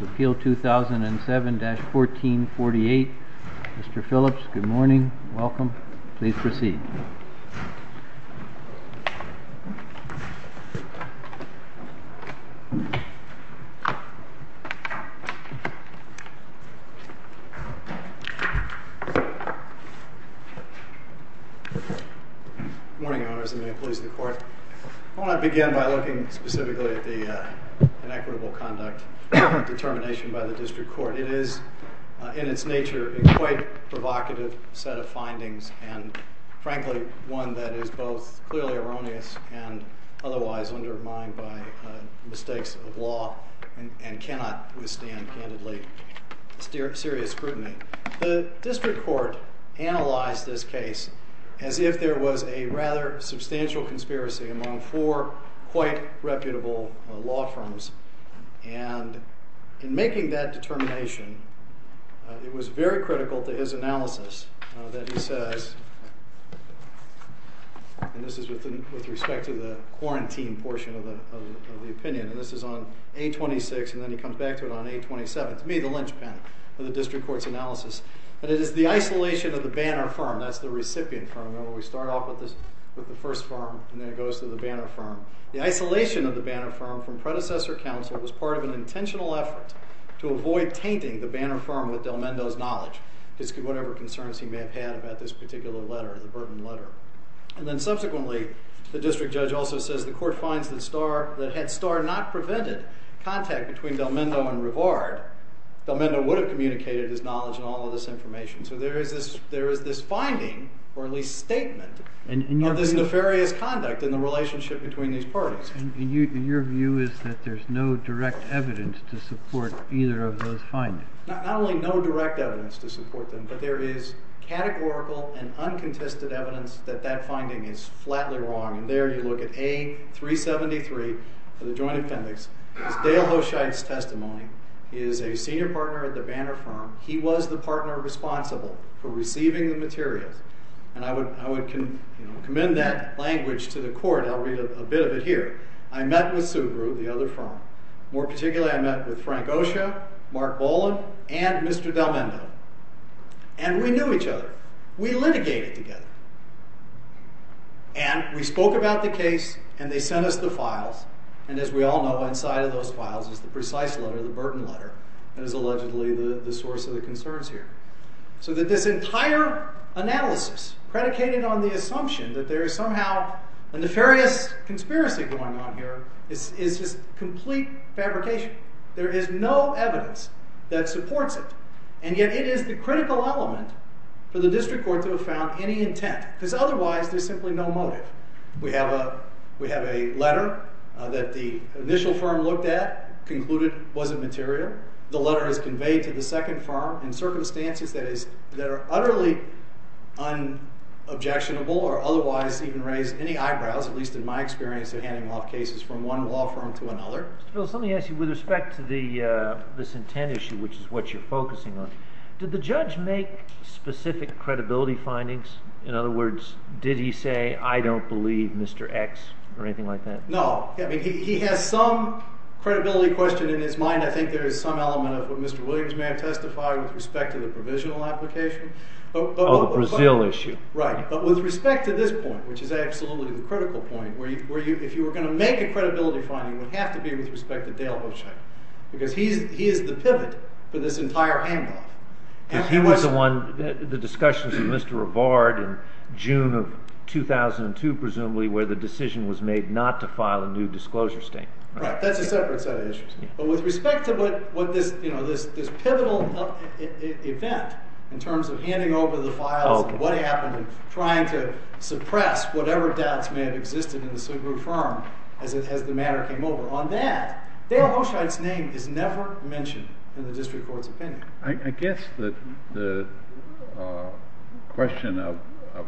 Appeal 2007-1448. Mr. Phillips, good morning. Welcome. Please proceed. Good morning, Your Honors. The employees of the Court. I want to begin by looking specifically at the inequitable conduct determination by the District Court. It is, in its nature, a quite provocative set of findings and, frankly, one that is both clearly erroneous and otherwise undermined by mistakes of law and cannot withstand candidly serious scrutiny. The District Court analyzed this case as if there was a rather substantial conspiracy among four quite reputable law firms. And in making that determination, it was very critical to his analysis that he says, and this is with respect to the quarantine portion of the opinion, and this is on A-26 and then he comes back to it on A-27, to me the linchpin of the District Court's analysis, that it is the isolation of the Banner firm, that's the recipient firm, remember we start off with the first firm and then it goes to the Banner firm. The isolation of the Banner firm from predecessor counsel was part of an intentional effort to avoid tainting the Banner firm with Del Mendo's knowledge, whatever concerns he may have had about this particular letter, the Burton letter. And then subsequently, the district judge also says the court finds that had Starr not prevented contact between Del Mendo and Rivard, Del Mendo would have communicated his knowledge and all of this information. So there is this finding, or at least statement, of this nefarious conduct in the relationship between these parties. And your view is that there's no direct evidence to support either of those findings? Not only no direct evidence to support them, but there is categorical and uncontested evidence that that finding is flatly wrong. And there you look at A-373 of the Joint Appendix. It's Dale Hochheit's testimony, he is a senior partner at the Banner firm, he was the partner responsible for receiving the materials. And I would commend that language to the court, I'll read a bit of it here. I met with Sugru, the other firm. More particularly, I met with Frank Osha, Mark Boland, and Mr. Del Mendo. And we knew each other. We litigated together. And we spoke about the case, and they sent us the files, and as we all know, inside of those files is the precise letter, the Burton letter, that is allegedly the source of the concerns here. So that this entire analysis, predicated on the assumption that there is somehow a nefarious conspiracy going on here, is just complete fabrication. There is no evidence that supports it. And yet it is the critical element for the district court to have found any intent. Because otherwise, there's simply no motive. We have a letter that the initial firm looked at, concluded wasn't material. The letter is conveyed to the second firm in circumstances that are utterly unobjectionable or otherwise even raise any eyebrows, at least in my experience in handing off cases from one law firm to another. Mr. Phillips, let me ask you, with respect to this intent issue, which is what you're focusing on, did the judge make specific credibility findings? In other words, did he say, I don't believe Mr. X, or anything like that? No. He has some credibility question in his mind. I think there is some element of what Mr. Williams may have testified with respect to the provisional application. Oh, the Brazil issue. Right. But with respect to this point, which is absolutely the critical point, where if you were going to make a credibility finding, it would have to be with respect to Dale Hochheim. Because he is the pivot for this entire handoff. He was the one, the discussions with Mr. Rivard in June of 2002, presumably, where the decision was made not to file a new disclosure statement. Right. That's a separate set of issues. But with respect to what this pivotal event, in terms of handing over the files, and what happened in trying to suppress whatever doubts may have existed in the Sugru firm as the matter came over, on that, Dale Hochheim's name is never mentioned in the district court's opinion. I guess the question of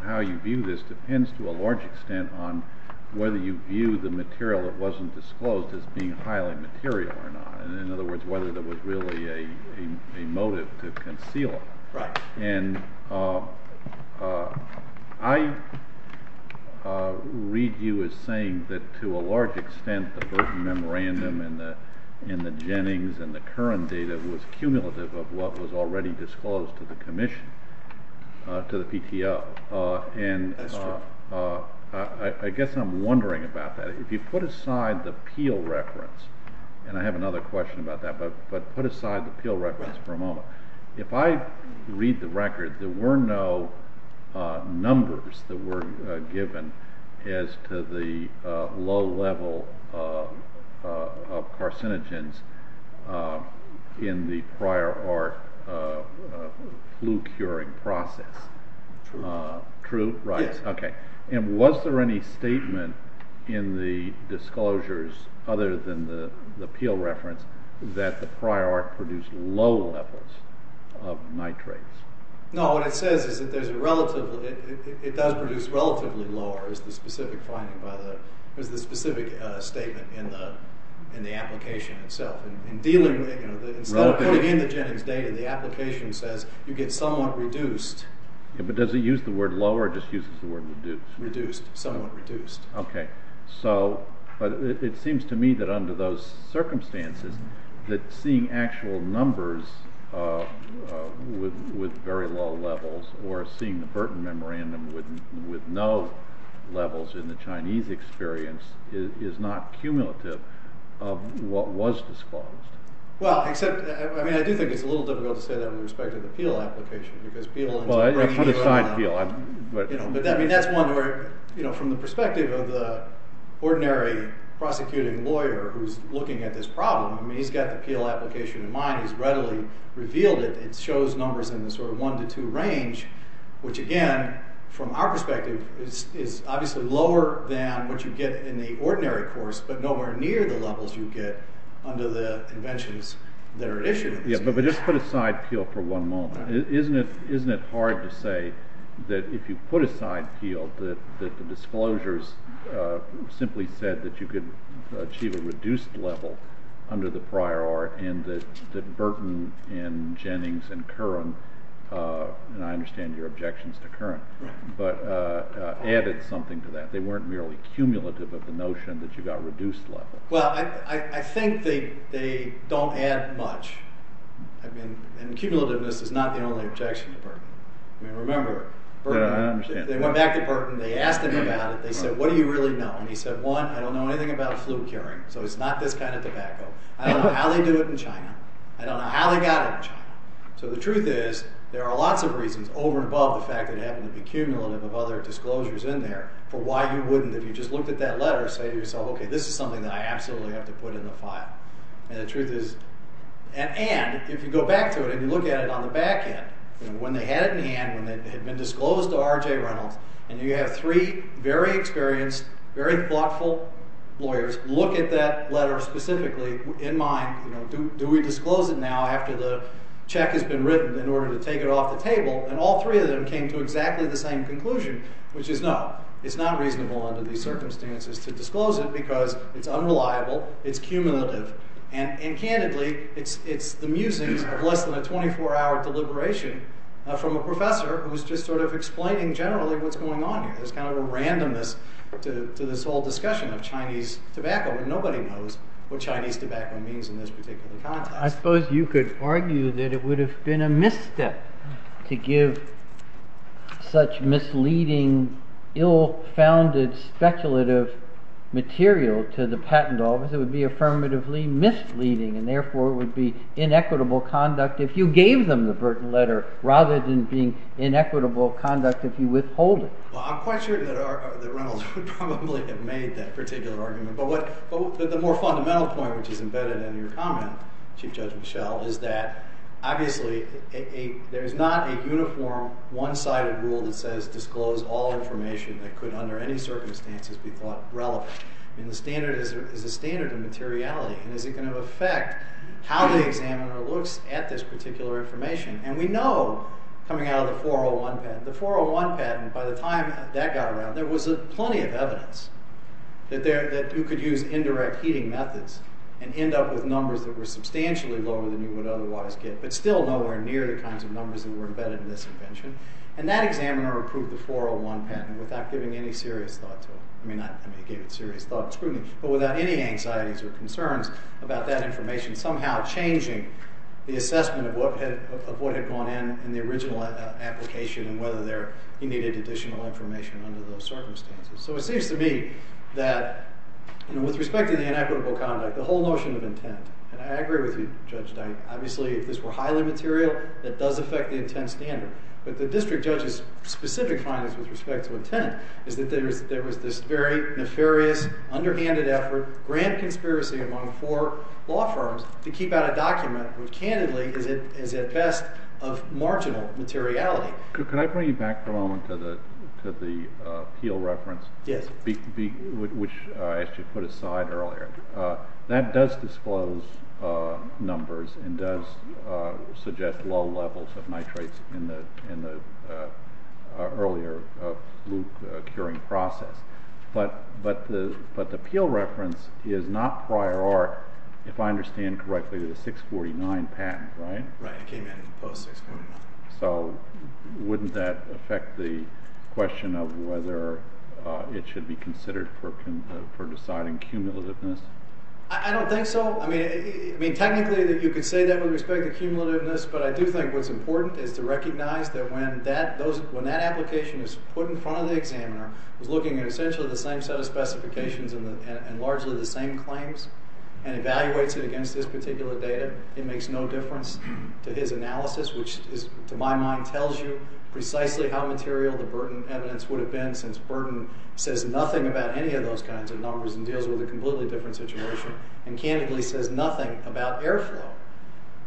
how you view this depends to a large extent on whether you view the material that wasn't disclosed as being highly material or not. In other words, whether there was really a motive to conceal it. Right. And I read you as saying that, to a large extent, the first memorandum in the Jennings and the current data was cumulative of what was already disclosed to the commission, to the PTO. That's true. And I guess I'm wondering about that. If you put aside the Peel reference, and I have another question about that, but put aside the Peel reference for a moment. If I read the record, there were no numbers that were given as to the low level of carcinogens in the prior arc flu curing process. True. True? Right. Yes. And was there any statement in the disclosures, other than the Peel reference, that the prior arc produced low levels of nitrates? No, what it says is that there's a relative, it does produce relatively lower, is the specific statement in the application itself. Instead of putting in the Jennings data, the application says you get somewhat reduced. But does it use the word low, or just uses the word reduced? Reduced. Somewhat reduced. Okay. So, but it seems to me that under those circumstances, that seeing actual numbers with very low levels, or seeing the Burton memorandum with no levels in the Chinese experience, is not cumulative of what was disclosed. Well, except, I mean, I do think it's a little difficult to say that with respect to the Peel application, because Peel... Well, I'm trying to find Peel, but... But, I mean, that's one where, you know, from the perspective of the ordinary prosecuting lawyer who's looking at this problem, I mean, he's got the Peel application in mind, he's readily revealed it. It shows numbers in the sort of one to two range, which again, from our perspective, is obviously lower than what you get in the ordinary course, but nowhere near the levels you get under the inventions that are issued. Yeah, but just put aside Peel for one moment. Isn't it hard to say that if you put aside Peel, that the disclosures simply said that you could achieve a reduced level under the prior art, and that Burton and Jennings and Curran, and I understand your objections to Curran, but added something to that. They weren't merely cumulative of the notion that you got reduced level. Well, I think they don't add much. I mean, and cumulativeness is not the only objection to Burton. I mean, remember, they went back to Burton, they asked him about it, they said, what do you really know? And he said, one, I don't know anything about flu curing, so it's not this kind of tobacco. I don't know how they do it in China. I don't know how they got it in China. So the truth is, there are lots of reasons over and above the fact that it happened to be cumulative of other disclosures in there for why you wouldn't, if you just looked at that letter, say to yourself, okay, this is something that I absolutely have to put in the file. And the truth is, and if you go back to it and you look at it on the back end, when they had it in hand, when it had been disclosed to R.J. Reynolds, and you have three very experienced, very thoughtful lawyers look at that letter specifically in mind, do we disclose it now after the check has been issued? After the check has been written in order to take it off the table, and all three of them came to exactly the same conclusion, which is no, it's not reasonable under these circumstances to disclose it because it's unreliable, it's cumulative, and candidly, it's the musings of less than a 24-hour deliberation from a professor who's just sort of explaining generally what's going on here. There's kind of a randomness to this whole discussion of Chinese tobacco, and nobody knows what Chinese tobacco means in this particular context. I suppose you could argue that it would have been a misstep to give such misleading, ill-founded, speculative material to the patent office. It would be affirmatively misleading, and therefore it would be inequitable conduct if you gave them the Burton letter rather than being inequitable conduct if you withhold it. Well, I'm quite certain that Reynolds would probably have made that particular argument, but the more fundamental point, which is embedded in your comment, Chief Judge Michel, is that obviously there's not a uniform, one-sided rule that says disclose all information that could, under any circumstances, be thought relevant. I mean, the standard is a standard of materiality, and is it going to affect how the examiner looks at this particular information? And we know, coming out of the 401 patent, the 401 patent, by the time that got around, there was plenty of evidence that you could use indirect heating methods and end up with numbers that were substantially lower than you would otherwise get, but still nowhere near the kinds of numbers that were embedded in this invention. And that examiner approved the 401 patent without giving any serious thought to it. I mean, he gave it serious thought and scrutiny, but without any anxieties or concerns about that information somehow changing the assessment of what had gone in in the original application and whether he needed additional information under those circumstances. So it seems to me that, with respect to the inequitable conduct, the whole notion of intent, and I agree with you, Judge Dyke, obviously if this were highly material, that does affect the intent standard. But the district judge's specific findings with respect to intent is that there was this very nefarious, underhanded effort, grand conspiracy among four law firms to keep out a document which, candidly, is at best of marginal materiality. Could I bring you back for a moment to the Peale reference? Yes. Which I actually put aside earlier. That does disclose numbers and does suggest low levels of nitrates in the earlier fluke curing process. But the Peale reference is not prior art, if I understand correctly, to the 649 patent, right? Right. It came in post 649. So wouldn't that affect the question of whether it should be considered for deciding cumulativeness? I don't think so. I mean, technically you could say that with respect to cumulativeness, but I do think what's important is to recognize that when that application is put in front of the examiner who's looking at essentially the same set of specifications and largely the same claims and evaluates it against this particular data, it makes no difference to his analysis, which to my mind tells you precisely how material the burden evidence would have been since burden says nothing about any of those kinds of numbers and deals with a completely different situation. And candidly says nothing about airflow,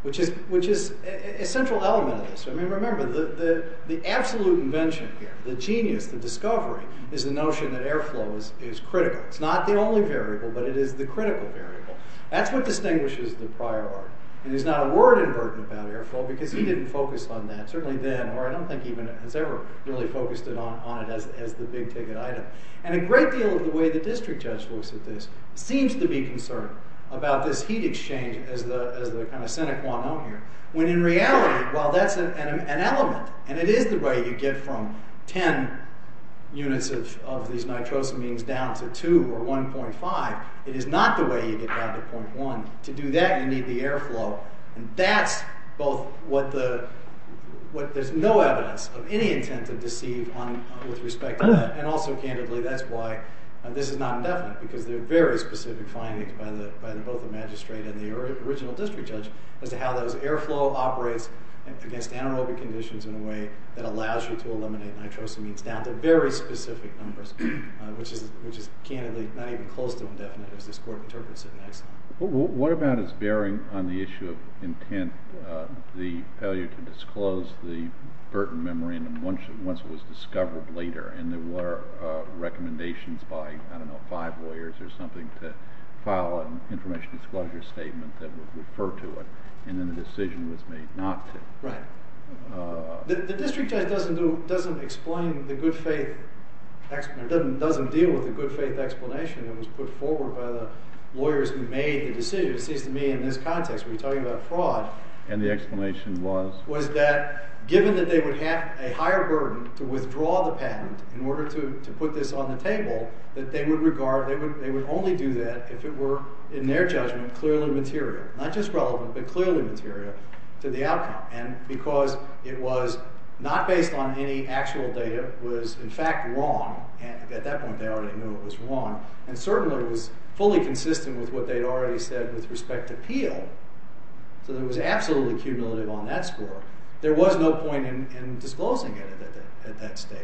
which is a central element of this. I mean, remember, the absolute invention here, the genius, the discovery is the notion that airflow is critical. It's not the only variable, but it is the critical variable. That's what distinguishes the prior art. And there's not a word in burden about airflow because he didn't focus on that, certainly then, or I don't think even has ever really focused on it as the big ticket item. And a great deal of the way the district judge looks at this seems to be concerned about this heat exchange as the kind of sine qua non here, when in reality, while that's an element, and it is the way you get from 10 units of these nitrosamines down to 2 or 1.5, it is not the way you get down to 0.1. To do that, you need the airflow. And that's both what there's no evidence of any intent to deceive with respect to that. And also, candidly, that's why this is not indefinite because there are very specific findings by both the magistrate and the original district judge as to how those airflow operates against anaerobic conditions in a way that allows you to eliminate nitrosamines down to very specific numbers, which is candidly not even close to indefinite as this court interprets it in Exxon. What about its bearing on the issue of intent, the failure to disclose the Burton memorandum once it was discovered later? And there were recommendations by, I don't know, five lawyers or something to file an information disclosure statement that would refer to it. And then the decision was made not to. Right. The district judge doesn't deal with the good faith explanation that was put forward by the lawyers who made the decision. It seems to me in this context, we're talking about fraud. And the explanation was? Was that given that they would have a higher burden to withdraw the patent in order to put this on the table, that they would only do that if it were, in their judgment, clearly material. Not just relevant, but clearly material to the outcome. And because it was not based on any actual data, was in fact wrong, and at that point they already knew it was wrong, and certainly was fully consistent with what they'd already said with respect to Peel, so there was absolutely cumulative on that score, there was no point in disclosing it at that stage.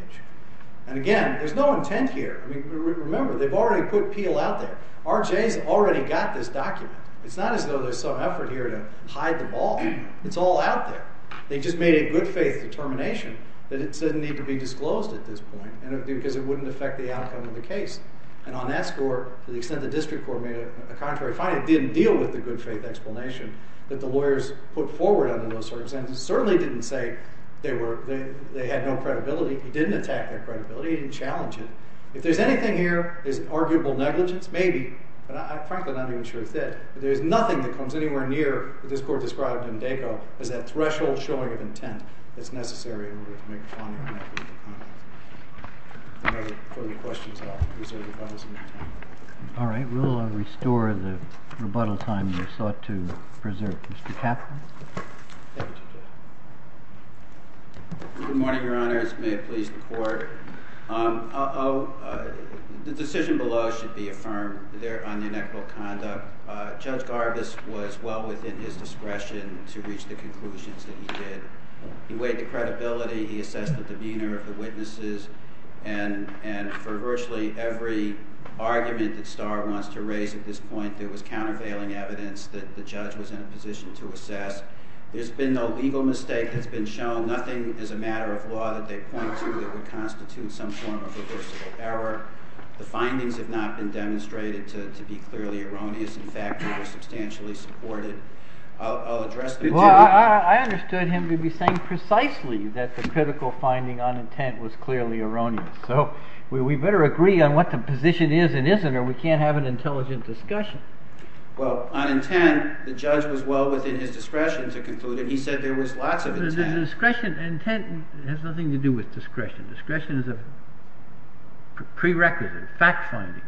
And again, there's no intent here. Remember, they've already put Peel out there. R.J.'s already got this document. It's not as though there's some effort here to hide the ball. It's all out there. They just made a good faith determination that it didn't need to be disclosed at this point, because it wouldn't affect the outcome of the case. And on that score, to the extent the district court made a contrary finding, it didn't deal with the good faith explanation that the lawyers put forward under those circumstances. It certainly didn't say they had no credibility. It didn't attack their credibility. It didn't challenge it. If there's anything here that's an arguable negligence, maybe, but I'm frankly not even sure it's it. But there's nothing that comes anywhere near what this court described in DACO as that threshold showing of intent that's necessary in order to make a final comment. If there are no further questions, I'll reserve the balance of my time. All right. We'll restore the rebuttal time you sought to preserve. Mr. Kaplan? Thank you, Judge. Good morning, Your Honors. May it please the Court. The decision below should be affirmed on the inequitable conduct. Judge Garbus was well within his discretion to reach the conclusions that he did. He weighed the credibility. He assessed the demeanor of the witnesses. And for virtually every argument that Starr wants to raise at this point, there was countervailing evidence that the judge was in a position to assess. There's been no legal mistake that's been shown. Nothing is a matter of law that they point to that would constitute some form of reversible error. The findings have not been demonstrated to be clearly erroneous. In fact, they were substantially supported. Well, I understood him to be saying precisely that the critical finding on intent was clearly erroneous. So we better agree on what the position is and isn't or we can't have an intelligent discussion. Well, on intent, the judge was well within his discretion to conclude it. He said there was lots of intent. Intent has nothing to do with discretion. Discretion is a prerequisite, fact finding.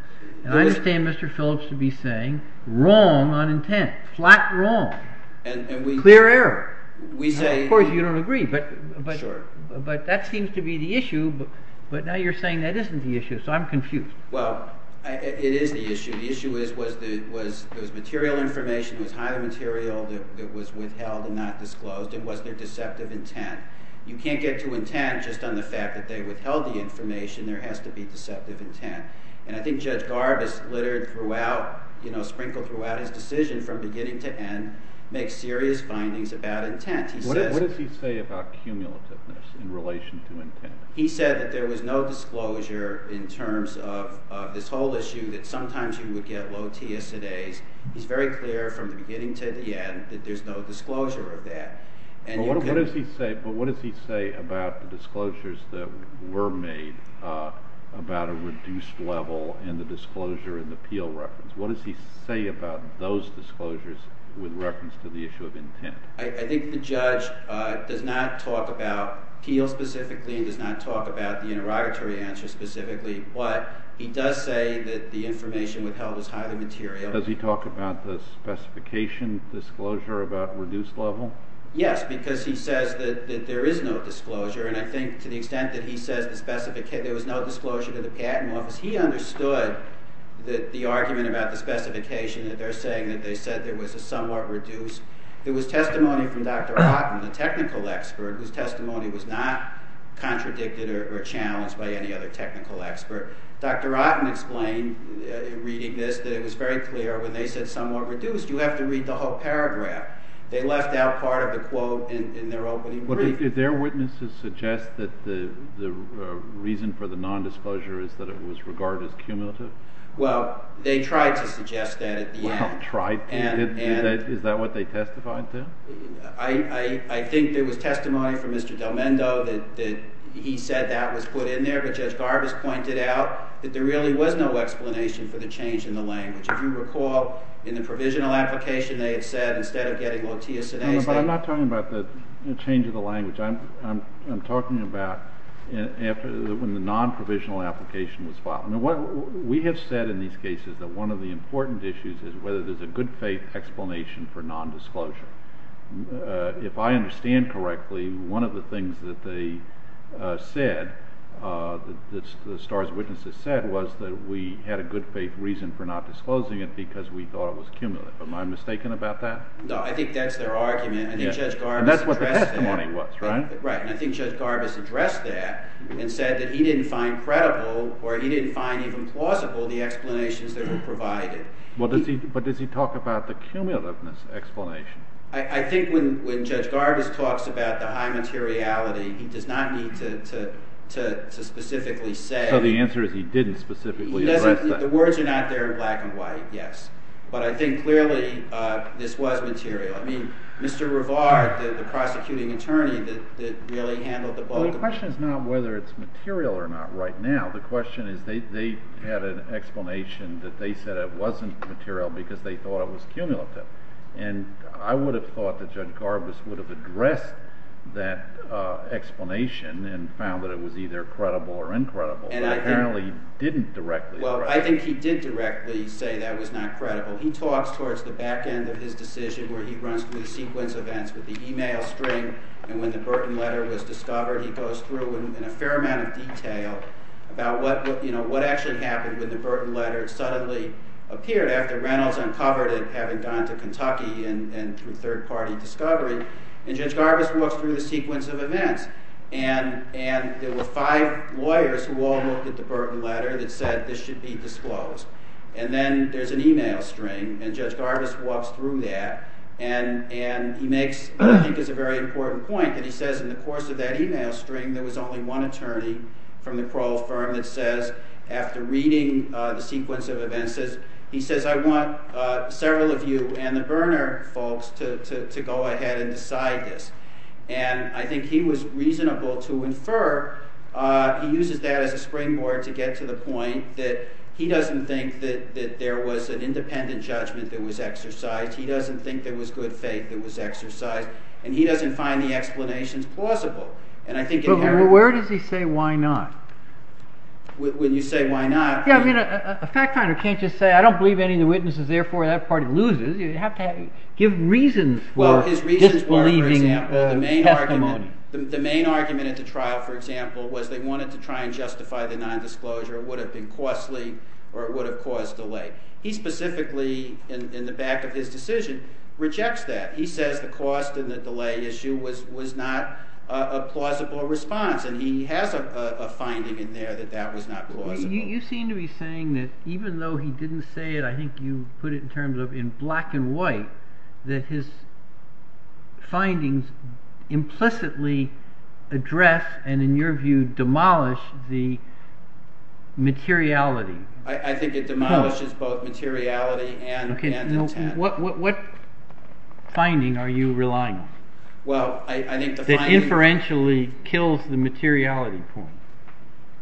And I understand Mr. Phillips to be saying wrong on intent, flat wrong, clear error. Of course, you don't agree, but that seems to be the issue. But now you're saying that isn't the issue, so I'm confused. Well, it is the issue. The issue was there was material information, there was highly material that was withheld and not disclosed, and was there deceptive intent? You can't get to intent just on the fact that they withheld the information. There has to be deceptive intent. And I think Judge Garvis littered throughout, sprinkled throughout his decision from beginning to end, makes serious findings about intent. What does he say about cumulativeness in relation to intent? He said that there was no disclosure in terms of this whole issue that sometimes you would get low TSA days. He's very clear from the beginning to the end that there's no disclosure of that. But what does he say about the disclosures that were made about a reduced level and the disclosure in the Peel reference? What does he say about those disclosures with reference to the issue of intent? I think the judge does not talk about Peel specifically. He does not talk about the interrogatory answer specifically. But he does say that the information withheld is highly material. Does he talk about the specification disclosure about reduced level? Yes, because he says that there is no disclosure. And I think to the extent that he says there was no disclosure to the Patent Office, he understood the argument about the specification that they're saying that they said there was a somewhat reduced. There was testimony from Dr. Otten, the technical expert, whose testimony was not contradicted or challenged by any other technical expert. Dr. Otten explained, reading this, that it was very clear when they said somewhat reduced, you have to read the whole paragraph. They left out part of the quote in their opening brief. Did their witnesses suggest that the reason for the nondisclosure is that it was regarded as cumulative? Well, they tried to suggest that at the end. Well, tried. Is that what they testified to? I think there was testimony from Mr. Del Mendo that he said that was put in there. But Judge Garbus pointed out that there really was no explanation for the change in the language. If you recall, in the provisional application, they had said instead of getting Lotea Sinese, they- But I'm not talking about the change of the language. I'm talking about when the nonprovisional application was filed. We have said in these cases that one of the important issues is whether there's a good faith explanation for nondisclosure. If I understand correctly, one of the things that the STARS witnesses said was that we had a good faith reason for not disclosing it because we thought it was cumulative. Am I mistaken about that? No, I think that's their argument. And that's what the testimony was, right? Right, and I think Judge Garbus addressed that and said that he didn't find credible or he didn't find even plausible the explanations that were provided. But does he talk about the cumulativeness explanation? I think when Judge Garbus talks about the high materiality, he does not need to specifically say- So the answer is he didn't specifically address that. The words are not there in black and white, yes. But I think clearly this was material. I mean, Mr. Rivard, the prosecuting attorney that really handled the book- Well, the question is not whether it's material or not right now. The question is they had an explanation that they said it wasn't material because they thought it was cumulative. And I would have thought that Judge Garbus would have addressed that explanation and found that it was either credible or incredible, but apparently didn't directly. Well, I think he did directly say that was not credible. He talks towards the back end of his decision where he runs through the sequence of events with the email string. And when the Burton letter was discovered, he goes through in a fair amount of detail about what actually happened when the Burton letter suddenly appeared after Reynolds uncovered it, having gone to Kentucky and through third-party discovery. And Judge Garbus walks through the sequence of events. And there were five lawyers who all looked at the Burton letter that said this should be disclosed. And then there's an email string, and Judge Garbus walks through that. And he makes what I think is a very important point that he says in the course of that email string there was only one attorney from the Kroll firm that says, after reading the sequence of events, he says, I want several of you and the Berner folks to go ahead and decide this. And I think he was reasonable to infer. He uses that as a springboard to get to the point that he doesn't think that there was an independent judgment that was exercised. He doesn't think there was good faith that was exercised. And he doesn't find the explanations plausible. But where does he say why not? When you say why not? Yeah, I mean, a fact finder can't just say, I don't believe any of the witnesses. Therefore, that party loses. You have to give reasons for disbelieving testimony. The main argument at the trial, for example, was they wanted to try and justify the nondisclosure. It would have been costly, or it would have caused delay. He specifically, in the back of his decision, rejects that. He says the cost and the delay issue was not a plausible response. And he has a finding in there that that was not plausible. You seem to be saying that even though he didn't say it, I think you put it in terms of in black and white, that his findings implicitly address and, in your view, demolish the materiality. I think it demolishes both materiality and intent. What finding are you relying on that inferentially kills the materiality point?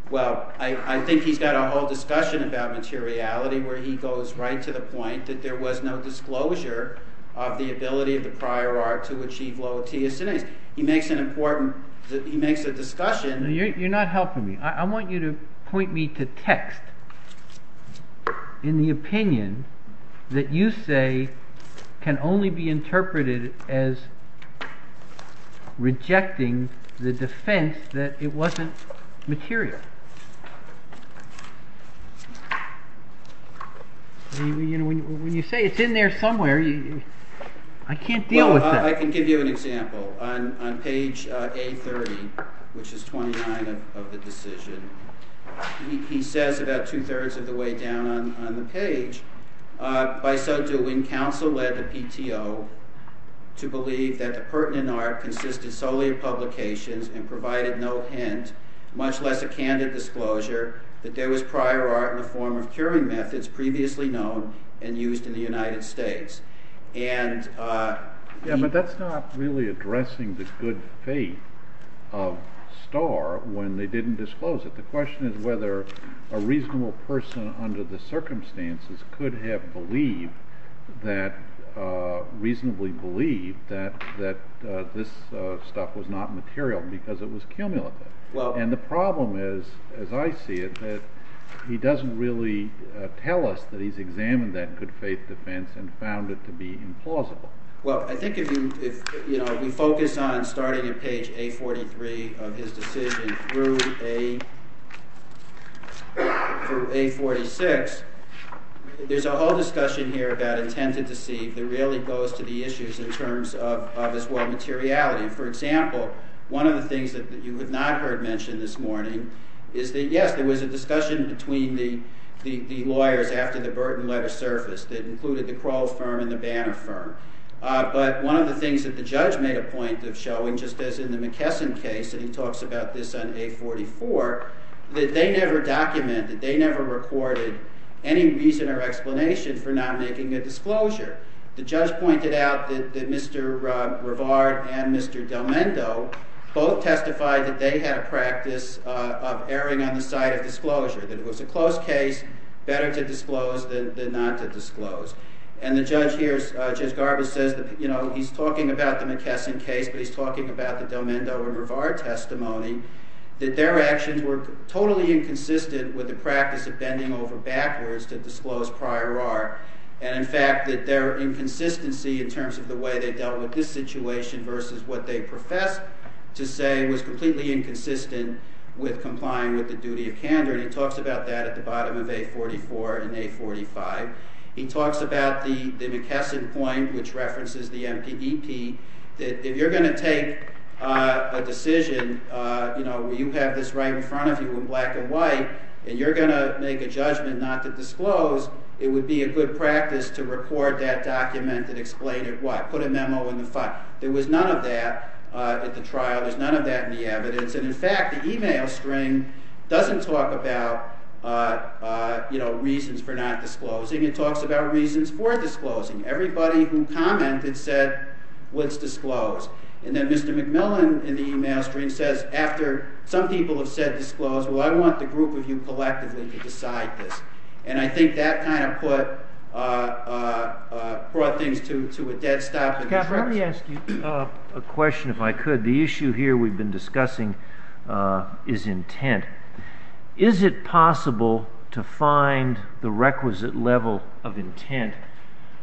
Well, I think he's got a whole discussion about materiality, where he goes right to the point that there was no disclosure of the ability of the prior art to achieve loa tia sinensis. He makes an important discussion. You're not helping me. I want you to point me to text in the opinion that you say can only be interpreted as rejecting the defence that it wasn't material. When you say it's in there somewhere, I can't deal with that. Well, I can give you an example. On page A30, which is 29 of the decision, he says about two-thirds of the way down on the page, By so doing, council led the PTO to believe that the pertinent art consisted solely of publications and provided no hint, much less a candid disclosure, that there was prior art in the form of curing methods previously known and used in the United States. Yeah, but that's not really addressing the good faith of Starr when they didn't disclose it. The question is whether a reasonable person under the circumstances could have reasonably believed that this stuff was not material because it was cumulative. And the problem is, as I see it, that he doesn't really tell us that he's examined that good faith defence and found it to be implausible. Well, I think if we focus on starting at page A43 of his decision through A46, there's a whole discussion here about intended deceit that really goes to the issues in terms of, as well, materiality. For example, one of the things that you have not heard mentioned this morning is that, yes, there was a discussion between the lawyers after the Burton letter surfaced that included the Crow firm and the Banner firm. But one of the things that the judge made a point of showing, just as in the McKesson case, and he talks about this on A44, that they never documented, that they never recorded any reason or explanation for not making a disclosure. The judge pointed out that Mr. Rivard and Mr. Del Mendo both testified that they had a practice of erring on the side of disclosure, that it was a closed case, better to disclose than not to disclose. And the judge here, Judge Garbus, says that, you know, he's talking about the McKesson case, but he's talking about the Del Mendo and Rivard testimony, that their actions were totally inconsistent with the practice of bending over backwards to disclose prior art. And, in fact, that their inconsistency in terms of the way they dealt with this situation versus what they professed to say was completely inconsistent with complying with the duty of candor. And he talks about that at the bottom of A44 and A45. He talks about the McKesson point, which references the MPEP, that if you're going to take a decision, you know, you have this right in front of you in black and white, and you're going to make a judgment not to disclose, it would be a good practice to record that document and explain it. There was none of that at the trial. There's none of that in the evidence. And, in fact, the email string doesn't talk about, you know, reasons for not disclosing. It talks about reasons for disclosing. Everybody who commented said, let's disclose. And then Mr. McMillan in the email string says, after some people have said disclose, well, I want the group of you collectively to decide this. And I think that kind of brought things to a dead stop. Scott, let me ask you a question, if I could. The issue here we've been discussing is intent. Is it possible to find the requisite level of intent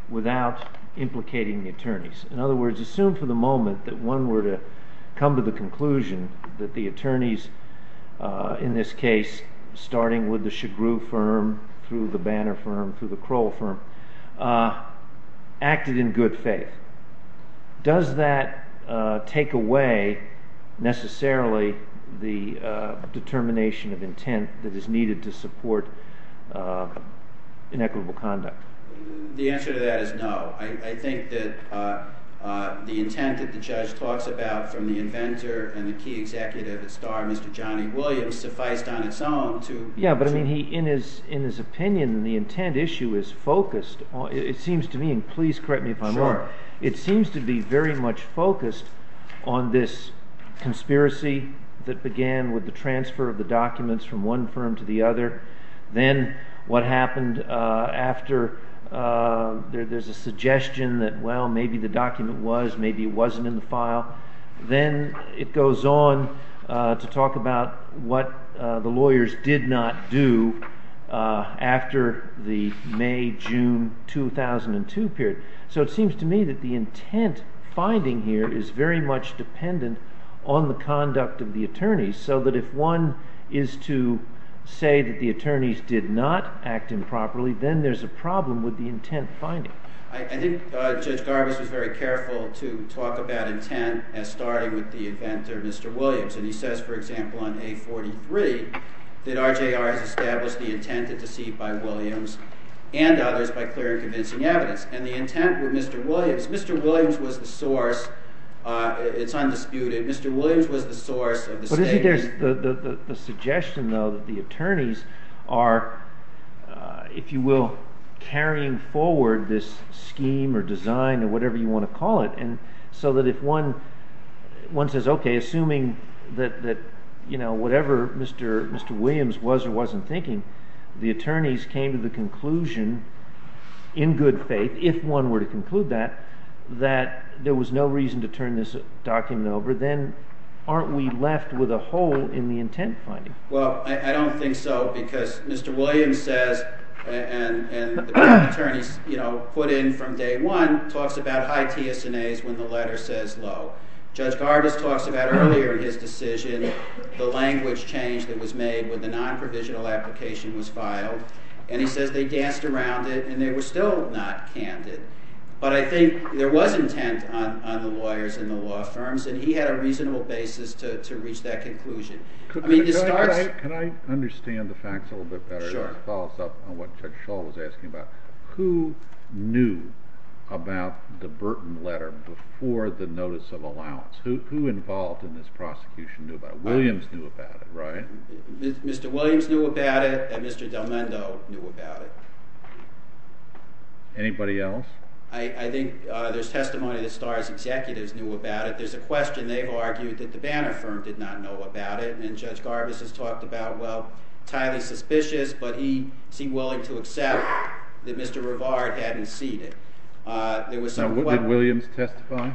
without implicating the attorneys? In other words, assume for the moment that one were to come to the conclusion that the attorneys in this case, starting with the Chagrou firm, through the Banner firm, through the Kroll firm, acted in good faith. Does that take away necessarily the determination of intent that is needed to support inequitable conduct? The answer to that is no. I think that the intent that the judge talks about from the inventor and the key executive, the star, Mr. Johnny Williams, sufficed on its own to- Yeah, but I mean, in his opinion, the intent issue is focused. It seems to me, and please correct me if I'm wrong, it seems to be very much focused on this conspiracy that began with the transfer of the documents from one firm to the other. Then what happened after there's a suggestion that, well, maybe the document was, maybe it wasn't in the file. Then it goes on to talk about what the lawyers did not do after the May-June 2002 period. So it seems to me that the intent finding here is very much dependent on the conduct of the attorneys, so that if one is to say that the attorneys did not act improperly, then there's a problem with the intent finding. I think Judge Garbus was very careful to talk about intent as starting with the inventor, Mr. Williams. He says, for example, on A43 that RJR has established the intent to deceive by Williams and others by clear and convincing evidence. The intent with Mr. Williams, Mr. Williams was the source. It's undisputed. Mr. Williams was the source of the statement. The suggestion, though, that the attorneys are, if you will, carrying forward this scheme or design or whatever you want to call it, so that if one says, okay, assuming that whatever Mr. Williams was or wasn't thinking, the attorneys came to the conclusion in good faith, if one were to conclude that, that there was no reason to turn this document over, then aren't we left with a hole in the intent finding? Well, I don't think so because Mr. Williams says, and the attorneys put in from day one, talks about high TSNAs when the letter says low. Judge Garbus talks about earlier in his decision the language change that was made when the non-provisional application was filed, and he says they danced around it and they were still not candid. But I think there was intent on the lawyers and the law firms, and he had a reasonable basis to reach that conclusion. Can I understand the facts a little bit better? Sure. It follows up on what Judge Schall was asking about. Who knew about the Burton letter before the notice of allowance? Who involved in this prosecution knew about it? Williams knew about it, right? Mr. Williams knew about it and Mr. Del Mendo knew about it. Anybody else? I think there's testimony that Starr's executives knew about it. There's a question they've argued that the Banner firm did not know about it, and Judge Garbus has talked about, well, highly suspicious, but he seemed willing to accept that Mr. Rivard hadn't seen it. Did Williams testify?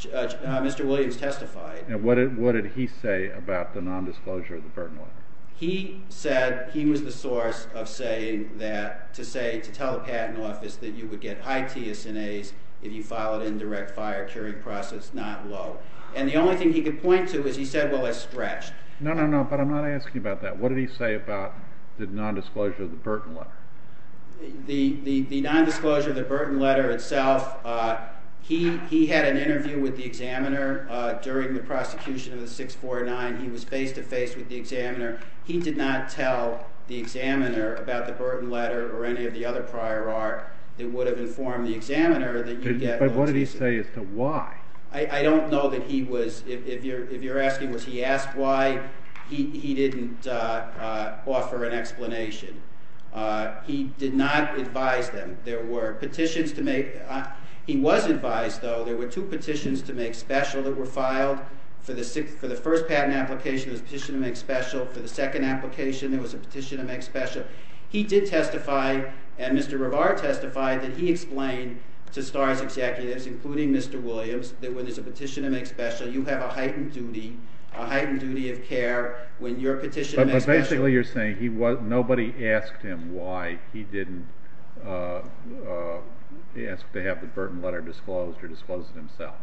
Mr. Williams testified. What did he say about the nondisclosure of the Burton letter? He said he was the source of saying that, to say, to tell the Patent Office that you would get high TSNAs if you filed an indirect fire curing process, not low. And the only thing he could point to is he said, well, it's stretched. No, no, no, but I'm not asking about that. What did he say about the nondisclosure of the Burton letter? The nondisclosure of the Burton letter itself, he had an interview with the examiner during the prosecution of the 649. He was face-to-face with the examiner. He did not tell the examiner about the Burton letter or any of the other prior art that would have informed the examiner that you'd get low TSNAs. But what did he say as to why? I don't know that he was—if you're asking was he asked why, he didn't offer an explanation. He did not advise them. There were petitions to make—he was advised, though, there were two petitions to make special that were filed. For the first patent application, there was a petition to make special. For the second application, there was a petition to make special. He did testify, and Mr. Rivard testified, that he explained to STARS executives, including Mr. Williams, that when there's a petition to make special, you have a heightened duty, a heightened duty of care when your petition to make special— But basically you're saying nobody asked him why he didn't ask to have the Burton letter disclosed or disclosed himself.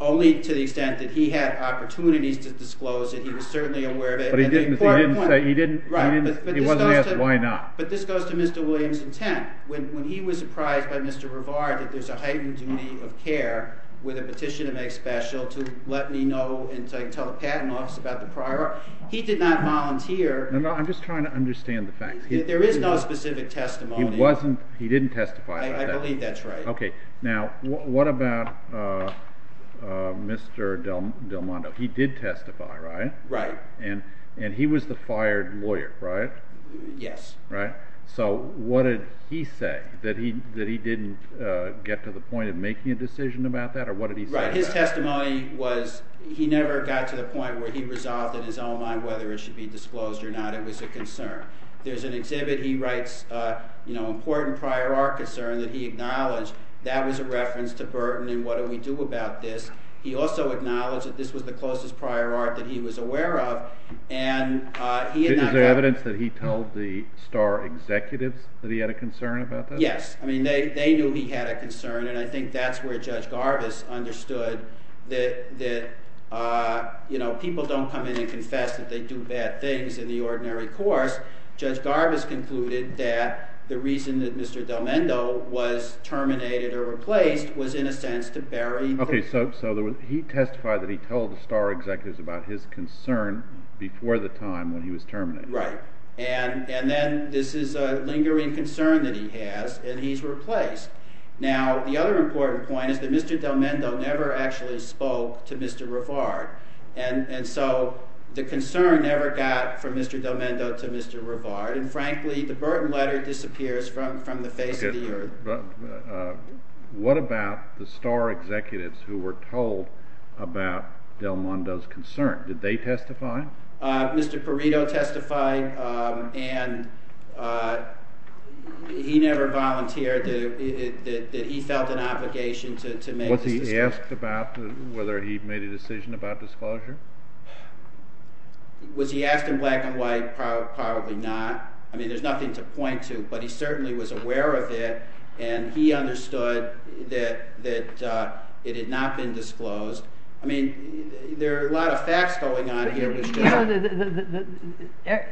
Only to the extent that he had opportunities to disclose it. He was certainly aware of it. But he didn't say—he didn't—he wasn't asked why not. But this goes to Mr. Williams' intent. When he was surprised by Mr. Rivard that there's a heightened duty of care with a petition to make special to let me know and tell the patent office about the prior art, he did not volunteer— No, no, I'm just trying to understand the facts. There is no specific testimony. He wasn't—he didn't testify about that. I believe that's right. Okay. Now, what about Mr. Del Mondo? He did testify, right? Right. And he was the fired lawyer, right? Yes. Right? So what did he say? That he didn't get to the point of making a decision about that, or what did he say about that? Right. His testimony was—he never got to the point where he resolved in his own mind whether it should be disclosed or not. It was a concern. There's an exhibit he writes, you know, important prior art concern that he acknowledged. That was a reference to Burton and what do we do about this. He also acknowledged that this was the closest prior art that he was aware of, and he had not— Is there evidence that he told the Starr executives that he had a concern about this? Yes. I mean, they knew he had a concern, and I think that's where Judge Garvis understood that, you know, people don't come in and confess that they do bad things in the ordinary course. Judge Garvis concluded that the reason that Mr. Del Mendo was terminated or replaced was in a sense to bury the— Okay. So he testified that he told the Starr executives about his concern before the time when he was terminated. Right. And then this is a lingering concern that he has, and he's replaced. Now, the other important point is that Mr. Del Mendo never actually spoke to Mr. Rivard. And so the concern never got from Mr. Del Mendo to Mr. Rivard, and frankly, the Burton letter disappears from the face of the earth. Okay. What about the Starr executives who were told about Del Mendo's concern? Did they testify? Mr. Perrito testified, and he never volunteered that he felt an obligation to make this decision. Was he asked about whether he made a decision about disclosure? Was he asked in black and white? Probably not. I mean, there's nothing to point to, but he certainly was aware of it, and he understood that it had not been disclosed. I mean, there are a lot of facts going on here.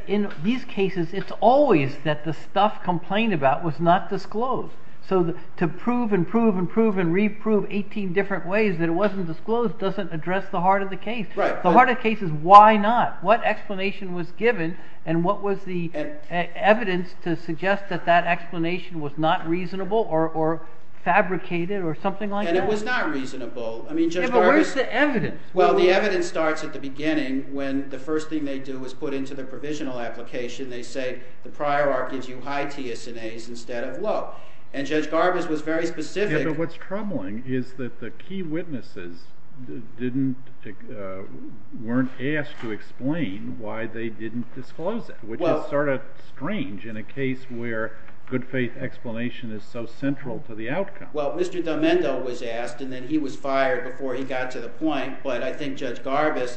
In these cases, it's always that the stuff complained about was not disclosed. So to prove and prove and prove and re-prove 18 different ways that it wasn't disclosed doesn't address the heart of the case. Right. The heart of the case is why not? What explanation was given, and what was the evidence to suggest that that explanation was not reasonable or fabricated or something like that? And it was not reasonable. Yeah, but where's the evidence? Well, the evidence starts at the beginning when the first thing they do is put into the provisional application. They say the prior art gives you high t-SNAs instead of low. And Judge Garbus was very specific. Yeah, but what's troubling is that the key witnesses weren't asked to explain why they didn't disclose it, which is sort of strange in a case where good faith explanation is so central to the outcome. Well, Mr. Del Mendo was asked, and then he was fired before he got to the point. But I think Judge Garbus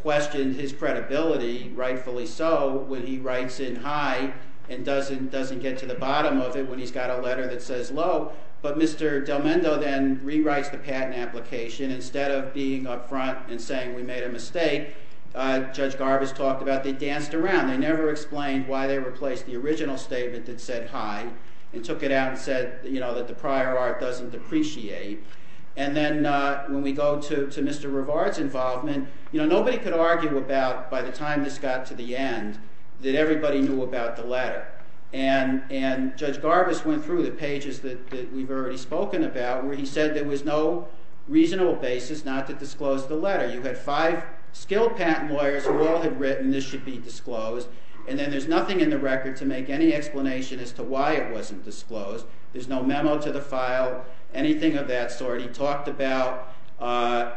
questioned his credibility, rightfully so, when he writes in high and doesn't get to the bottom of it when he's got a letter that says low. But Mr. Del Mendo then rewrites the patent application. Instead of being up front and saying we made a mistake, Judge Garbus talked about they danced around. They never explained why they replaced the original statement that said high and took it out and said that the prior art doesn't depreciate. And then when we go to Mr. Rivard's involvement, nobody could argue about, by the time this got to the end, that everybody knew about the letter. And Judge Garbus went through the pages that we've already spoken about where he said there was no reasonable basis not to disclose the letter. You had five skilled patent lawyers who all had written this should be disclosed. And then there's nothing in the record to make any explanation as to why it wasn't disclosed. There's no memo to the file, anything of that sort. He talked about the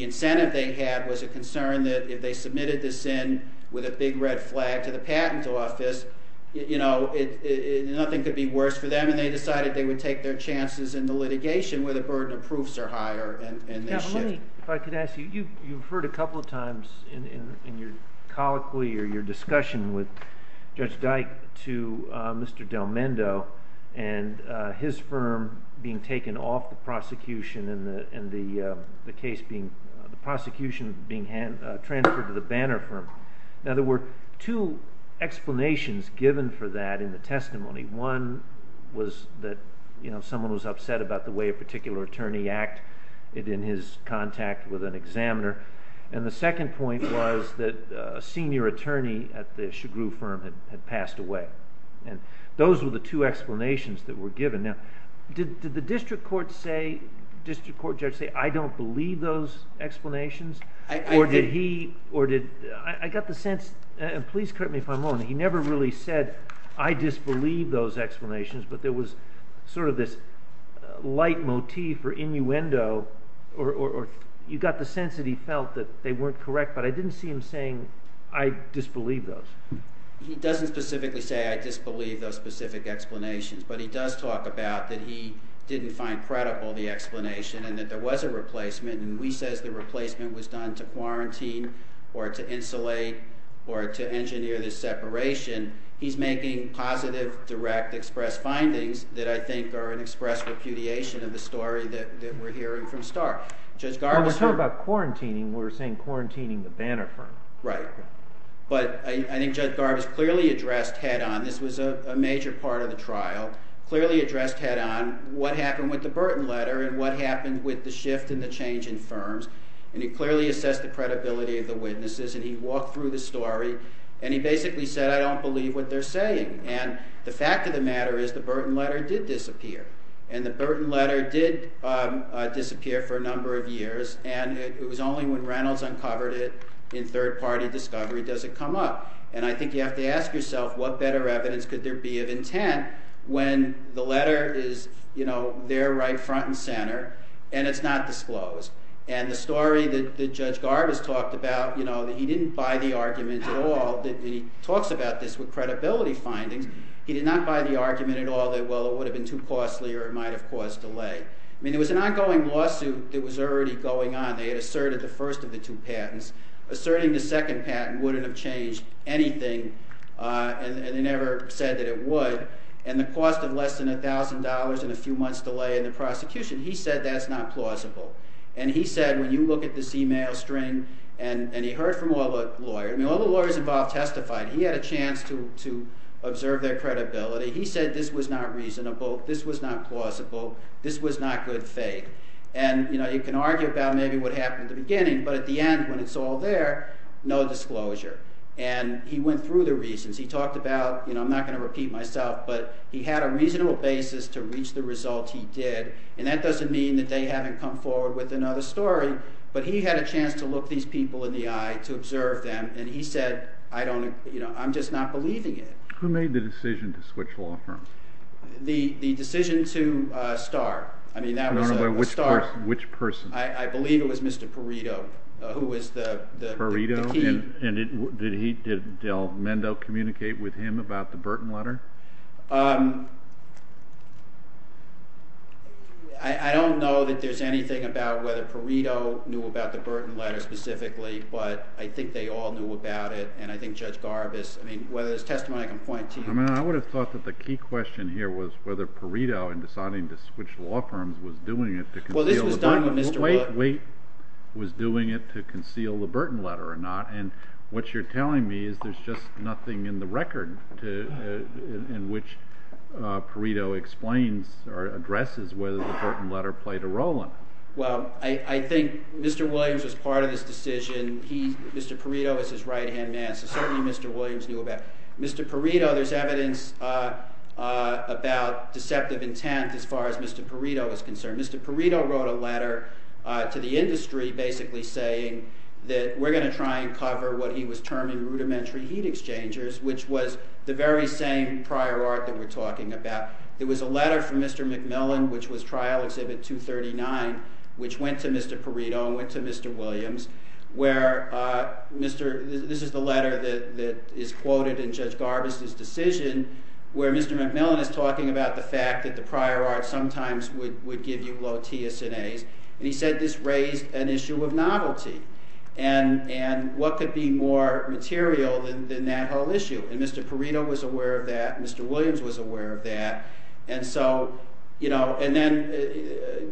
incentive they had was a concern that if they submitted this in with a big red flag to the patent office, nothing could be worse for them. And they decided they would take their chances in the litigation where the burden of proofs are higher. If I could ask you, you referred a couple of times in your colloquy or your discussion with Judge Dyke to Mr. Del Mendo and his firm being taken off the prosecution and the prosecution being transferred to the Banner firm. Now, there were two explanations given for that in the testimony. One was that someone was upset about the way a particular attorney acted in his contact with an examiner. And the second point was that a senior attorney at the Chagrou firm had passed away. And those were the two explanations that were given. Now, did the district court judge say, I don't believe those explanations? I got the sense, and please correct me if I'm wrong, he never really said, I disbelieve those explanations. But there was sort of this light motif or innuendo, or you got the sense that he felt that they weren't correct. But I didn't see him saying, I disbelieve those. He doesn't specifically say, I disbelieve those specific explanations. But he does talk about that he didn't find credible the explanation and that there was a replacement. And we says the replacement was done to quarantine or to insulate or to engineer the separation. He's making positive, direct, express findings that I think are an express repudiation of the story that we're hearing from Stark. Well, we're talking about quarantining. We're saying quarantining the Banner firm. Right. But I think Judge Garvis clearly addressed head on. This was a major part of the trial. Clearly addressed head on what happened with the Burton letter and what happened with the shift and the change in firms. And he clearly assessed the credibility of the witnesses. And he walked through the story. And he basically said, I don't believe what they're saying. And the fact of the matter is the Burton letter did disappear. And the Burton letter did disappear for a number of years. And it was only when Reynolds uncovered it in third party discovery does it come up. And I think you have to ask yourself what better evidence could there be of intent when the letter is, you know, there right front and center and it's not disclosed. And the story that Judge Garvis talked about, you know, that he didn't buy the argument at all. He talks about this with credibility findings. He did not buy the argument at all that, well, it would have been too costly or it might have caused delay. I mean, there was an ongoing lawsuit that was already going on. They had asserted the first of the two patents. Asserting the second patent wouldn't have changed anything. And they never said that it would. And the cost of less than $1,000 and a few months delay in the prosecution, he said that's not plausible. And he said, when you look at this email string, and he heard from all the lawyers. I mean, all the lawyers involved testified. He had a chance to observe their credibility. He said this was not reasonable. This was not plausible. This was not good faith. And, you know, you can argue about maybe what happened at the beginning. But at the end, when it's all there, no disclosure. And he went through the reasons. He talked about, you know, I'm not going to repeat myself. But he had a reasonable basis to reach the result he did. And that doesn't mean that they haven't come forward with another story. But he had a chance to look these people in the eye to observe them. And he said, I don't, you know, I'm just not believing it. Who made the decision to switch law firms? The decision to start. I mean, that was a start. Which person? I believe it was Mr. Perito, who was the key. Perito? And did Del Mendo communicate with him about the Burton letter? I don't know that there's anything about whether Perito knew about the Burton letter specifically. But I think they all knew about it. And I think Judge Garvis. I mean, whether there's testimony I can point to. I mean, I would have thought that the key question here was whether Perito, in deciding to switch law firms, was doing it to conceal. Well, this was done when Mr. Williams. Wait. Was doing it to conceal the Burton letter or not. And what you're telling me is there's just nothing in the record in which Perito explains or addresses whether the Burton letter played a role in it. Well, I think Mr. Williams was part of this decision. Mr. Perito is his right-hand man. So certainly Mr. Williams knew about it. Mr. Perito, there's evidence about deceptive intent as far as Mr. Perito is concerned. Mr. Perito wrote a letter to the industry basically saying that we're going to try and cover what he was terming rudimentary heat exchangers, which was the very same prior art that we're talking about. There was a letter from Mr. McMillan, which was Trial Exhibit 239, which went to Mr. Perito and went to Mr. Williams. This is the letter that is quoted in Judge Garvis' decision where Mr. McMillan is talking about the fact that the prior art sometimes would give you low TSAs. And he said this raised an issue of novelty. And what could be more material than that whole issue? And Mr. Perito was aware of that. Mr. Williams was aware of that. And so, you know, and then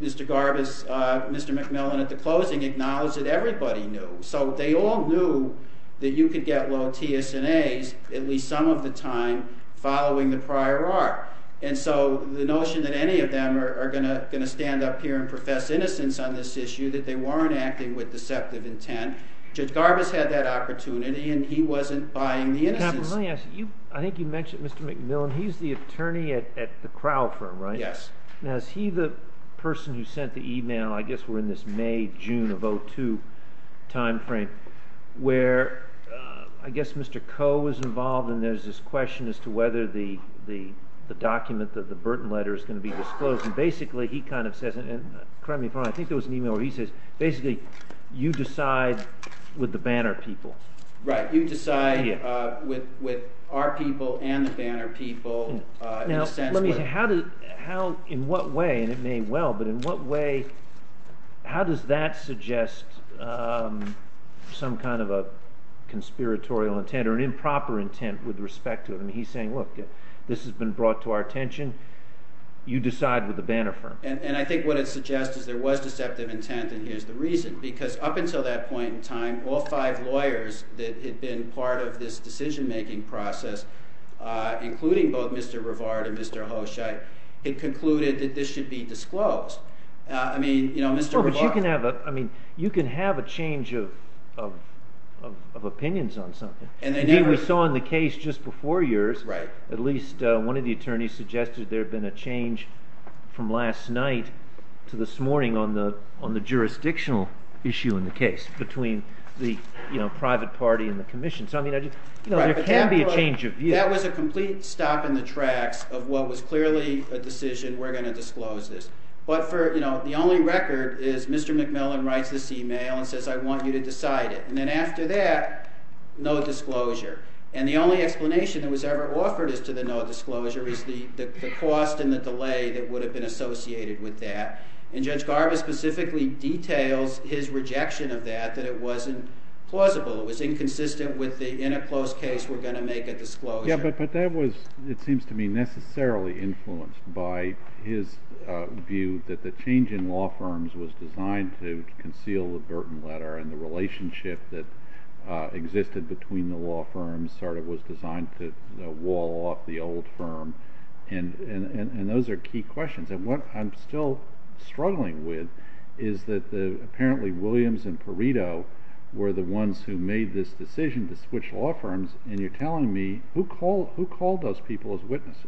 Mr. Garvis, Mr. McMillan at the closing acknowledged that everybody knew. So they all knew that you could get low TSAs at least some of the time following the prior art. And so the notion that any of them are going to stand up here and profess innocence on this issue, that they weren't acting with deceptive intent, Judge Garvis had that opportunity and he wasn't buying the innocence. Let me ask you, I think you mentioned Mr. McMillan. He's the attorney at the Crowell firm, right? Yes. Now, is he the person who sent the email, I guess we're in this May, June of 2002 timeframe, where I guess Mr. Coe was involved and there's this question as to whether the document, the Burton letter is going to be disclosed. And basically, he kind of says, and correct me if I'm wrong, I think there was an email where he says, basically, you decide with the Banner people. Right. You decide with our people and the Banner people. Now, let me say, how, in what way, and it may well, but in what way, how does that suggest some kind of a conspiratorial intent or an improper intent with respect to it? I mean, he's saying, look, this has been brought to our attention. You decide with the Banner firm. And I think what it suggests is there was deceptive intent, and here's the reason. Because up until that point in time, all five lawyers that had been part of this decision-making process, including both Mr. Rivard and Mr. Hoscheit, had concluded that this should be disclosed. I mean, Mr. Rivard— Well, but you can have a change of opinions on something. And they never— So this morning on the jurisdictional issue in the case between the private party and the commission. So, I mean, there can be a change of view. That was a complete stop in the tracks of what was clearly a decision, we're going to disclose this. But for, you know, the only record is Mr. McMillan writes this email and says, I want you to decide it. And then after that, no disclosure. And the only explanation that was ever offered as to the no disclosure is the cost and the delay that would have been associated with that. And Judge Garvis specifically details his rejection of that, that it wasn't plausible. It was inconsistent with the, in a close case, we're going to make a disclosure. Yeah, but that was, it seems to me, necessarily influenced by his view that the change in law firms was designed to conceal the Burton Letter and the relationship that existed between the law firms sort of was designed to wall off the old firm. And those are key questions. And what I'm still struggling with is that apparently Williams and Perito were the ones who made this decision to switch law firms. And you're telling me, who called those people as witnesses?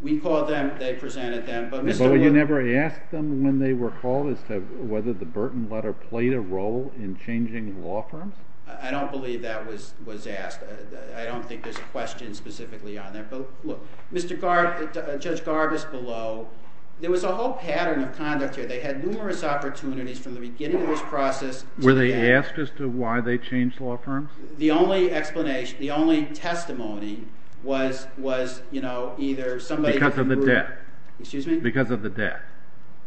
We called them, they presented them. But you never asked them when they were called as to whether the Burton Letter played a role in changing law firms? I don't believe that was asked. I don't think there's a question specifically on that. But look, Mr. Garvis, Judge Garvis below, there was a whole pattern of conduct here. They had numerous opportunities from the beginning of this process. Were they asked as to why they changed law firms? The only explanation, the only testimony was, you know, either somebody who grew up. Because of the death. Excuse me? Because of the death.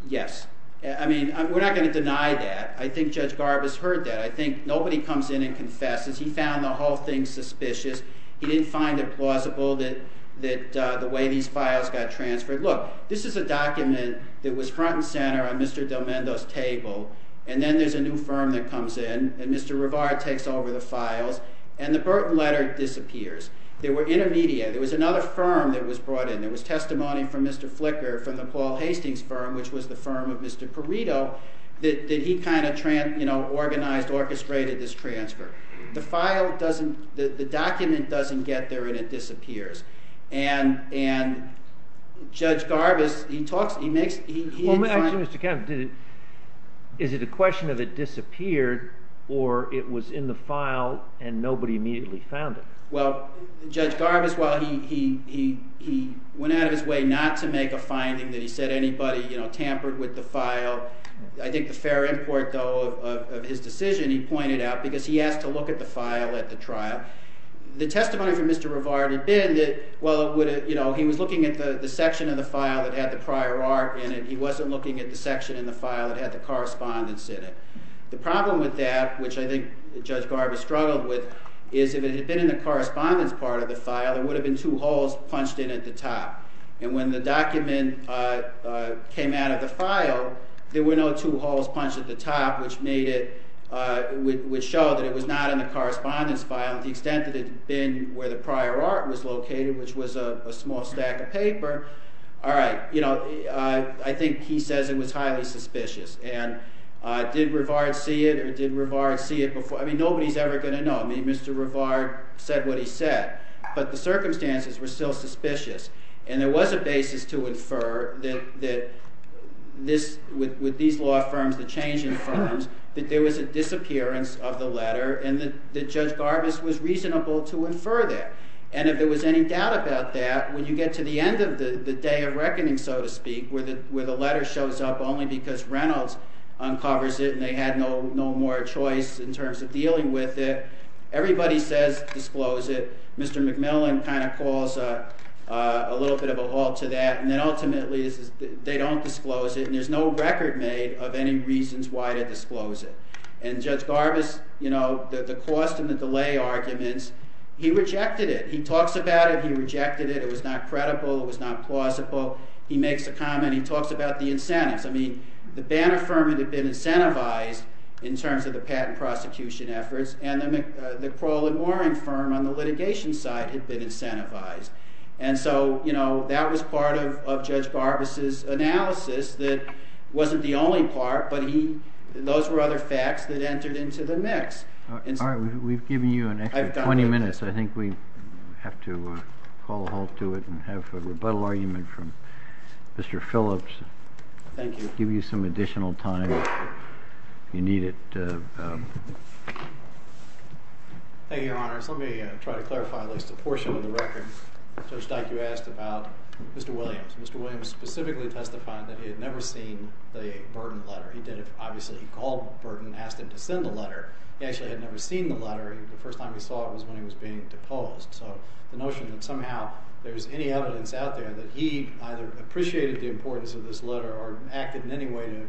Yes. I mean, we're not going to deny that. I think Judge Garvis heard that. I think nobody comes in and confesses. He found the whole thing suspicious. He didn't find it plausible that the way these files got transferred. Look, this is a document that was front and center on Mr. DelMendo's table, and then there's a new firm that comes in, and Mr. Rivard takes over the files, and the Burton Letter disappears. They were intermediate. There was another firm that was brought in. There was testimony from Mr. Flicker from the Paul Hastings firm, which was the firm of Mr. Perito, that he kind of, you know, organized, orchestrated this transfer. The file doesn't, the document doesn't get there, and it disappears. And Judge Garvis, he talks, he makes, he- I have a question, Mr. Kemp. Is it a question of it disappeared or it was in the file and nobody immediately found it? Well, Judge Garvis, while he went out of his way not to make a finding that he said anybody, you know, tampered with the file, I think the fair import, though, of his decision, he pointed out, because he asked to look at the file at the trial, the testimony from Mr. Rivard had been that, well, you know, he was looking at the section of the file that had the prior art in it. He wasn't looking at the section in the file that had the correspondence in it. The problem with that, which I think Judge Garvis struggled with, is if it had been in the correspondence part of the file, there would have been two holes punched in at the top. And when the document came out of the file, there were no two holes punched at the top, which made it, which showed that it was not in the correspondence file, to the extent that it had been where the prior art was located, which was a small stack of paper. All right, you know, I think he says it was highly suspicious. And did Rivard see it, or did Rivard see it before? I mean, nobody's ever going to know. I mean, Mr. Rivard said what he said. But the circumstances were still suspicious. And there was a basis to infer that this, with these law firms, the changing firms, that there was a disappearance of the letter and that Judge Garvis was reasonable to infer that. And if there was any doubt about that, when you get to the end of the day of reckoning, so to speak, where the letter shows up only because Reynolds uncovers it and they had no more choice in terms of dealing with it, everybody says disclose it. Mr. McMillan kind of calls a little bit of a halt to that. And then ultimately they don't disclose it, and there's no record made of any reasons why to disclose it. And Judge Garvis, you know, the cost and the delay arguments, he rejected it. He talks about it. He rejected it. It was not credible. It was not plausible. He makes a comment. He talks about the incentives. I mean, the Banner firm had been incentivized in terms of the patent prosecution efforts, and the Crawl and Warren firm on the litigation side had been incentivized. And so, you know, that was part of Judge Garvis' analysis that wasn't the only part, but those were other facts that entered into the mix. All right. We've given you an extra 20 minutes. I think we have to call a halt to it and have a rebuttal argument from Mr. Phillips. Thank you. Give you some additional time if you need it. Thank you, Your Honors. Let me try to clarify at least a portion of the record. Judge Dyke, you asked about Mr. Williams. Mr. Williams specifically testified that he had never seen the Burden letter. He did it, obviously. He called Burden and asked him to send the letter. He actually had never seen the letter. The first time he saw it was when he was being deposed. So the notion that somehow there's any evidence out there that he either appreciated the importance of this letter or acted in any way to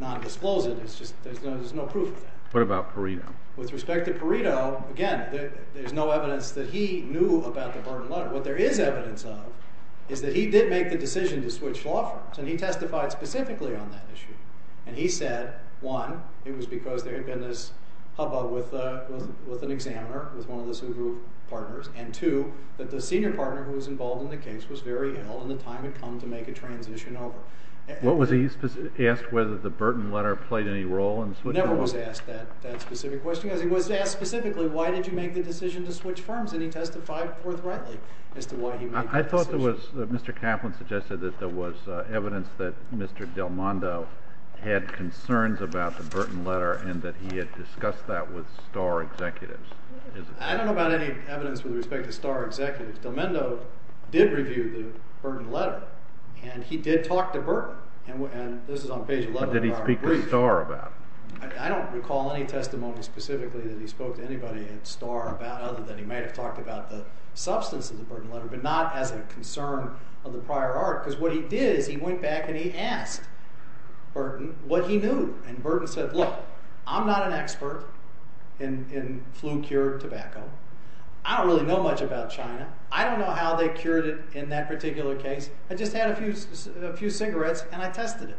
nondisclose it, it's just there's no proof of that. What about Perito? With respect to Perito, again, there's no evidence that he knew about the Burden letter. But what there is evidence of is that he did make the decision to switch law firms, and he testified specifically on that issue. And he said, one, it was because there had been this hubbub with an examiner, with one of the Subaru partners, and two, that the senior partner who was involved in the case was very ill and the time had come to make a transition over. Was he asked whether the Burden letter played any role in switching? He never was asked that specific question. He was asked specifically, why did you make the decision to switch firms? And he testified forthrightly as to why he made that decision. I thought there was, Mr. Kaplan suggested that there was evidence that Mr. Delmando had concerns about the Burden letter and that he had discussed that with Starr executives. I don't know about any evidence with respect to Starr executives. Delmando did review the Burden letter, and he did talk to Burden. And this is on page 11 of our brief. What did he speak to Starr about? I don't recall any testimony specifically that he spoke to anybody at Starr about other than he might have talked about the substance of the Burden letter, but not as a concern of the prior art. Because what he did is he went back and he asked Burden what he knew. And Burden said, look, I'm not an expert in flu-cured tobacco. I don't really know much about China. I don't know how they cured it in that particular case. I just had a few cigarettes and I tested it.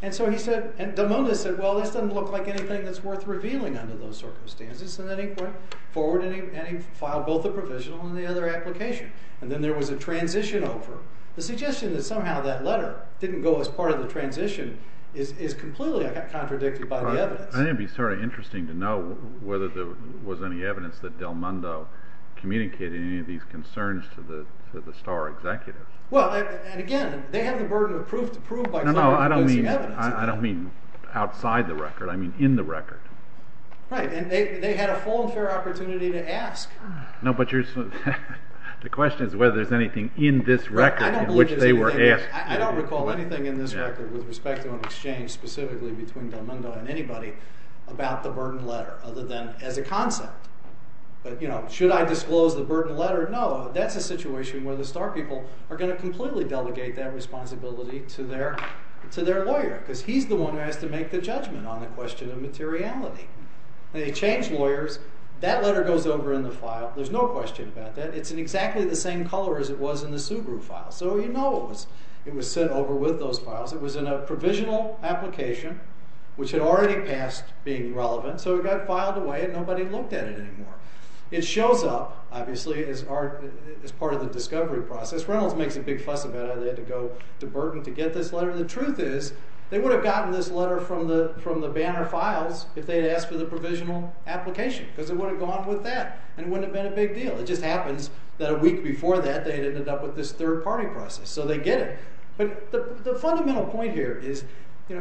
And so he said, and Delmando said, well, this doesn't look like anything that's worth revealing under those circumstances. And then he went forward and he filed both the provisional and the other application. And then there was a transition over. The suggestion that somehow that letter didn't go as part of the transition is completely contradicted by the evidence. I think it would be sort of interesting to know whether there was any evidence that Delmando communicated any of these concerns to the Starr executives. Well, and again, they have the burden of proof to prove by closing evidence. No, no, I don't mean outside the record. I mean in the record. Right, and they had a full and fair opportunity to ask. No, but the question is whether there's anything in this record in which they were asked. I don't recall anything in this record with respect to an exchange specifically between Delmando and anybody about the Burden letter, other than as a concept. But should I disclose the Burden letter? No, that's a situation where the Starr people are going to completely delegate that responsibility to their lawyer because he's the one who has to make the judgment on the question of materiality. They change lawyers. That letter goes over in the file. There's no question about that. It's in exactly the same color as it was in the Subaru file, so you know it was sent over with those files. It was in a provisional application, which had already passed being relevant, so it got filed away and nobody looked at it anymore. It shows up, obviously, as part of the discovery process. Reynolds makes a big fuss about how they had to go to Burden to get this letter. The truth is they would have gotten this letter from the Banner files if they had asked for the provisional application because they would have gone with that and it wouldn't have been a big deal. It just happens that a week before that they had ended up with this third-party process, so they get it. But the fundamental point here is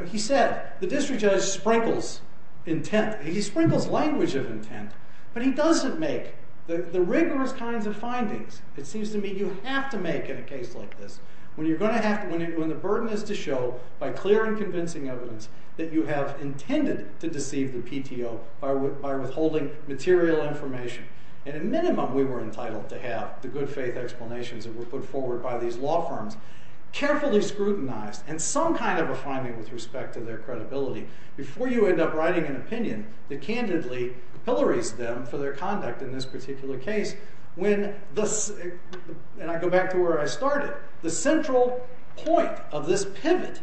he said the district judge sprinkles intent. He sprinkles language of intent, but he doesn't make the rigorous kinds of findings it seems to me you have to make in a case like this. When the burden is to show by clear and convincing evidence that you have intended to deceive the PTO by withholding material information. At a minimum, we were entitled to have the good faith explanations that were put forward by these law firms, carefully scrutinized and some kind of a finding with respect to their credibility before you end up writing an opinion that candidly pillories them for their conduct in this particular case. And I go back to where I started. The central point of this pivot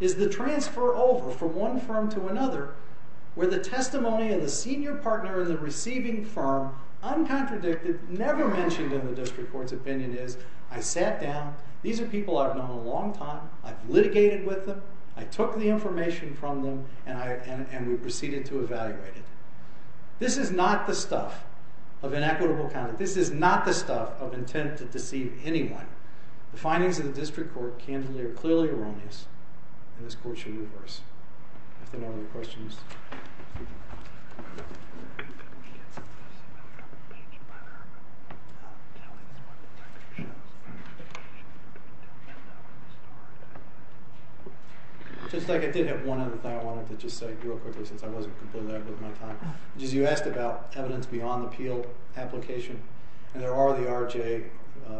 is the transfer over from one firm to another where the testimony of the senior partner in the receiving firm, uncontradicted, never mentioned in the district court's opinion is I sat down, these are people I've known a long time, I've litigated with them, I took the information from them and we proceeded to evaluate it. This is not the stuff of inequitable conduct. This is not the stuff of intent to deceive anyone. The findings of the district court candidly are clearly erroneous and this court should reverse. If there are no other questions. Just like I did have one other thing I wanted to just say real quickly since I wasn't completely out of my time, which is you asked about evidence beyond the Peel application and there are the R.J.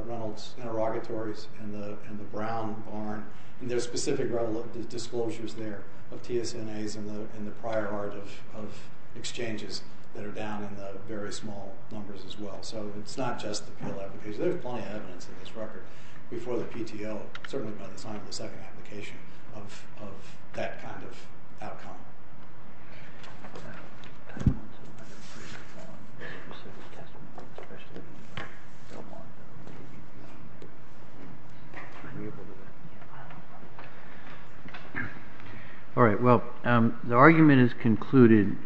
Reynolds interrogatories and the Brown Barn and there's specific revelations, disclosures there of TSNAs and the prior art of exchanges that are down in the very small numbers as well. So it's not just the Peel application. There's plenty of evidence in this record before the PTO, certainly by the time of the second application of that kind of outcome. All right, well, the argument is concluded.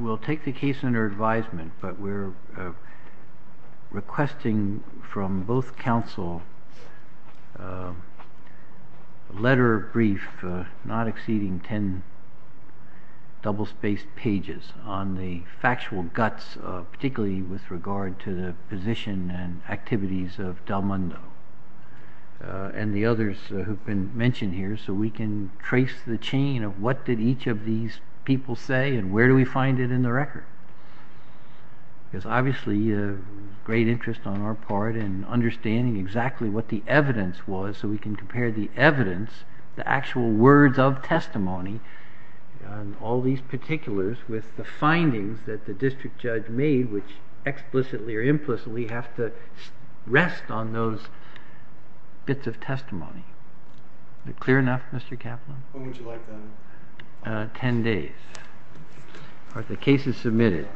We'll take the case under advisement, but we're requesting from both counsel a letter of brief not exceeding ten double-spaced pages on the factual guts particularly with regard to the position and activities of Del Mundo and the others who've been mentioned here so we can trace the chain of what did each of these people say and where do we find it in the record? There's obviously a great interest on our part in understanding exactly what the evidence was so we can compare the evidence, the actual words of testimony and all these particulars with the findings that the district judge made which explicitly or implicitly have to rest on those bits of testimony. Is that clear enough, Mr. Kaplan? When would you like that? Ten days. All right, the case is submitted.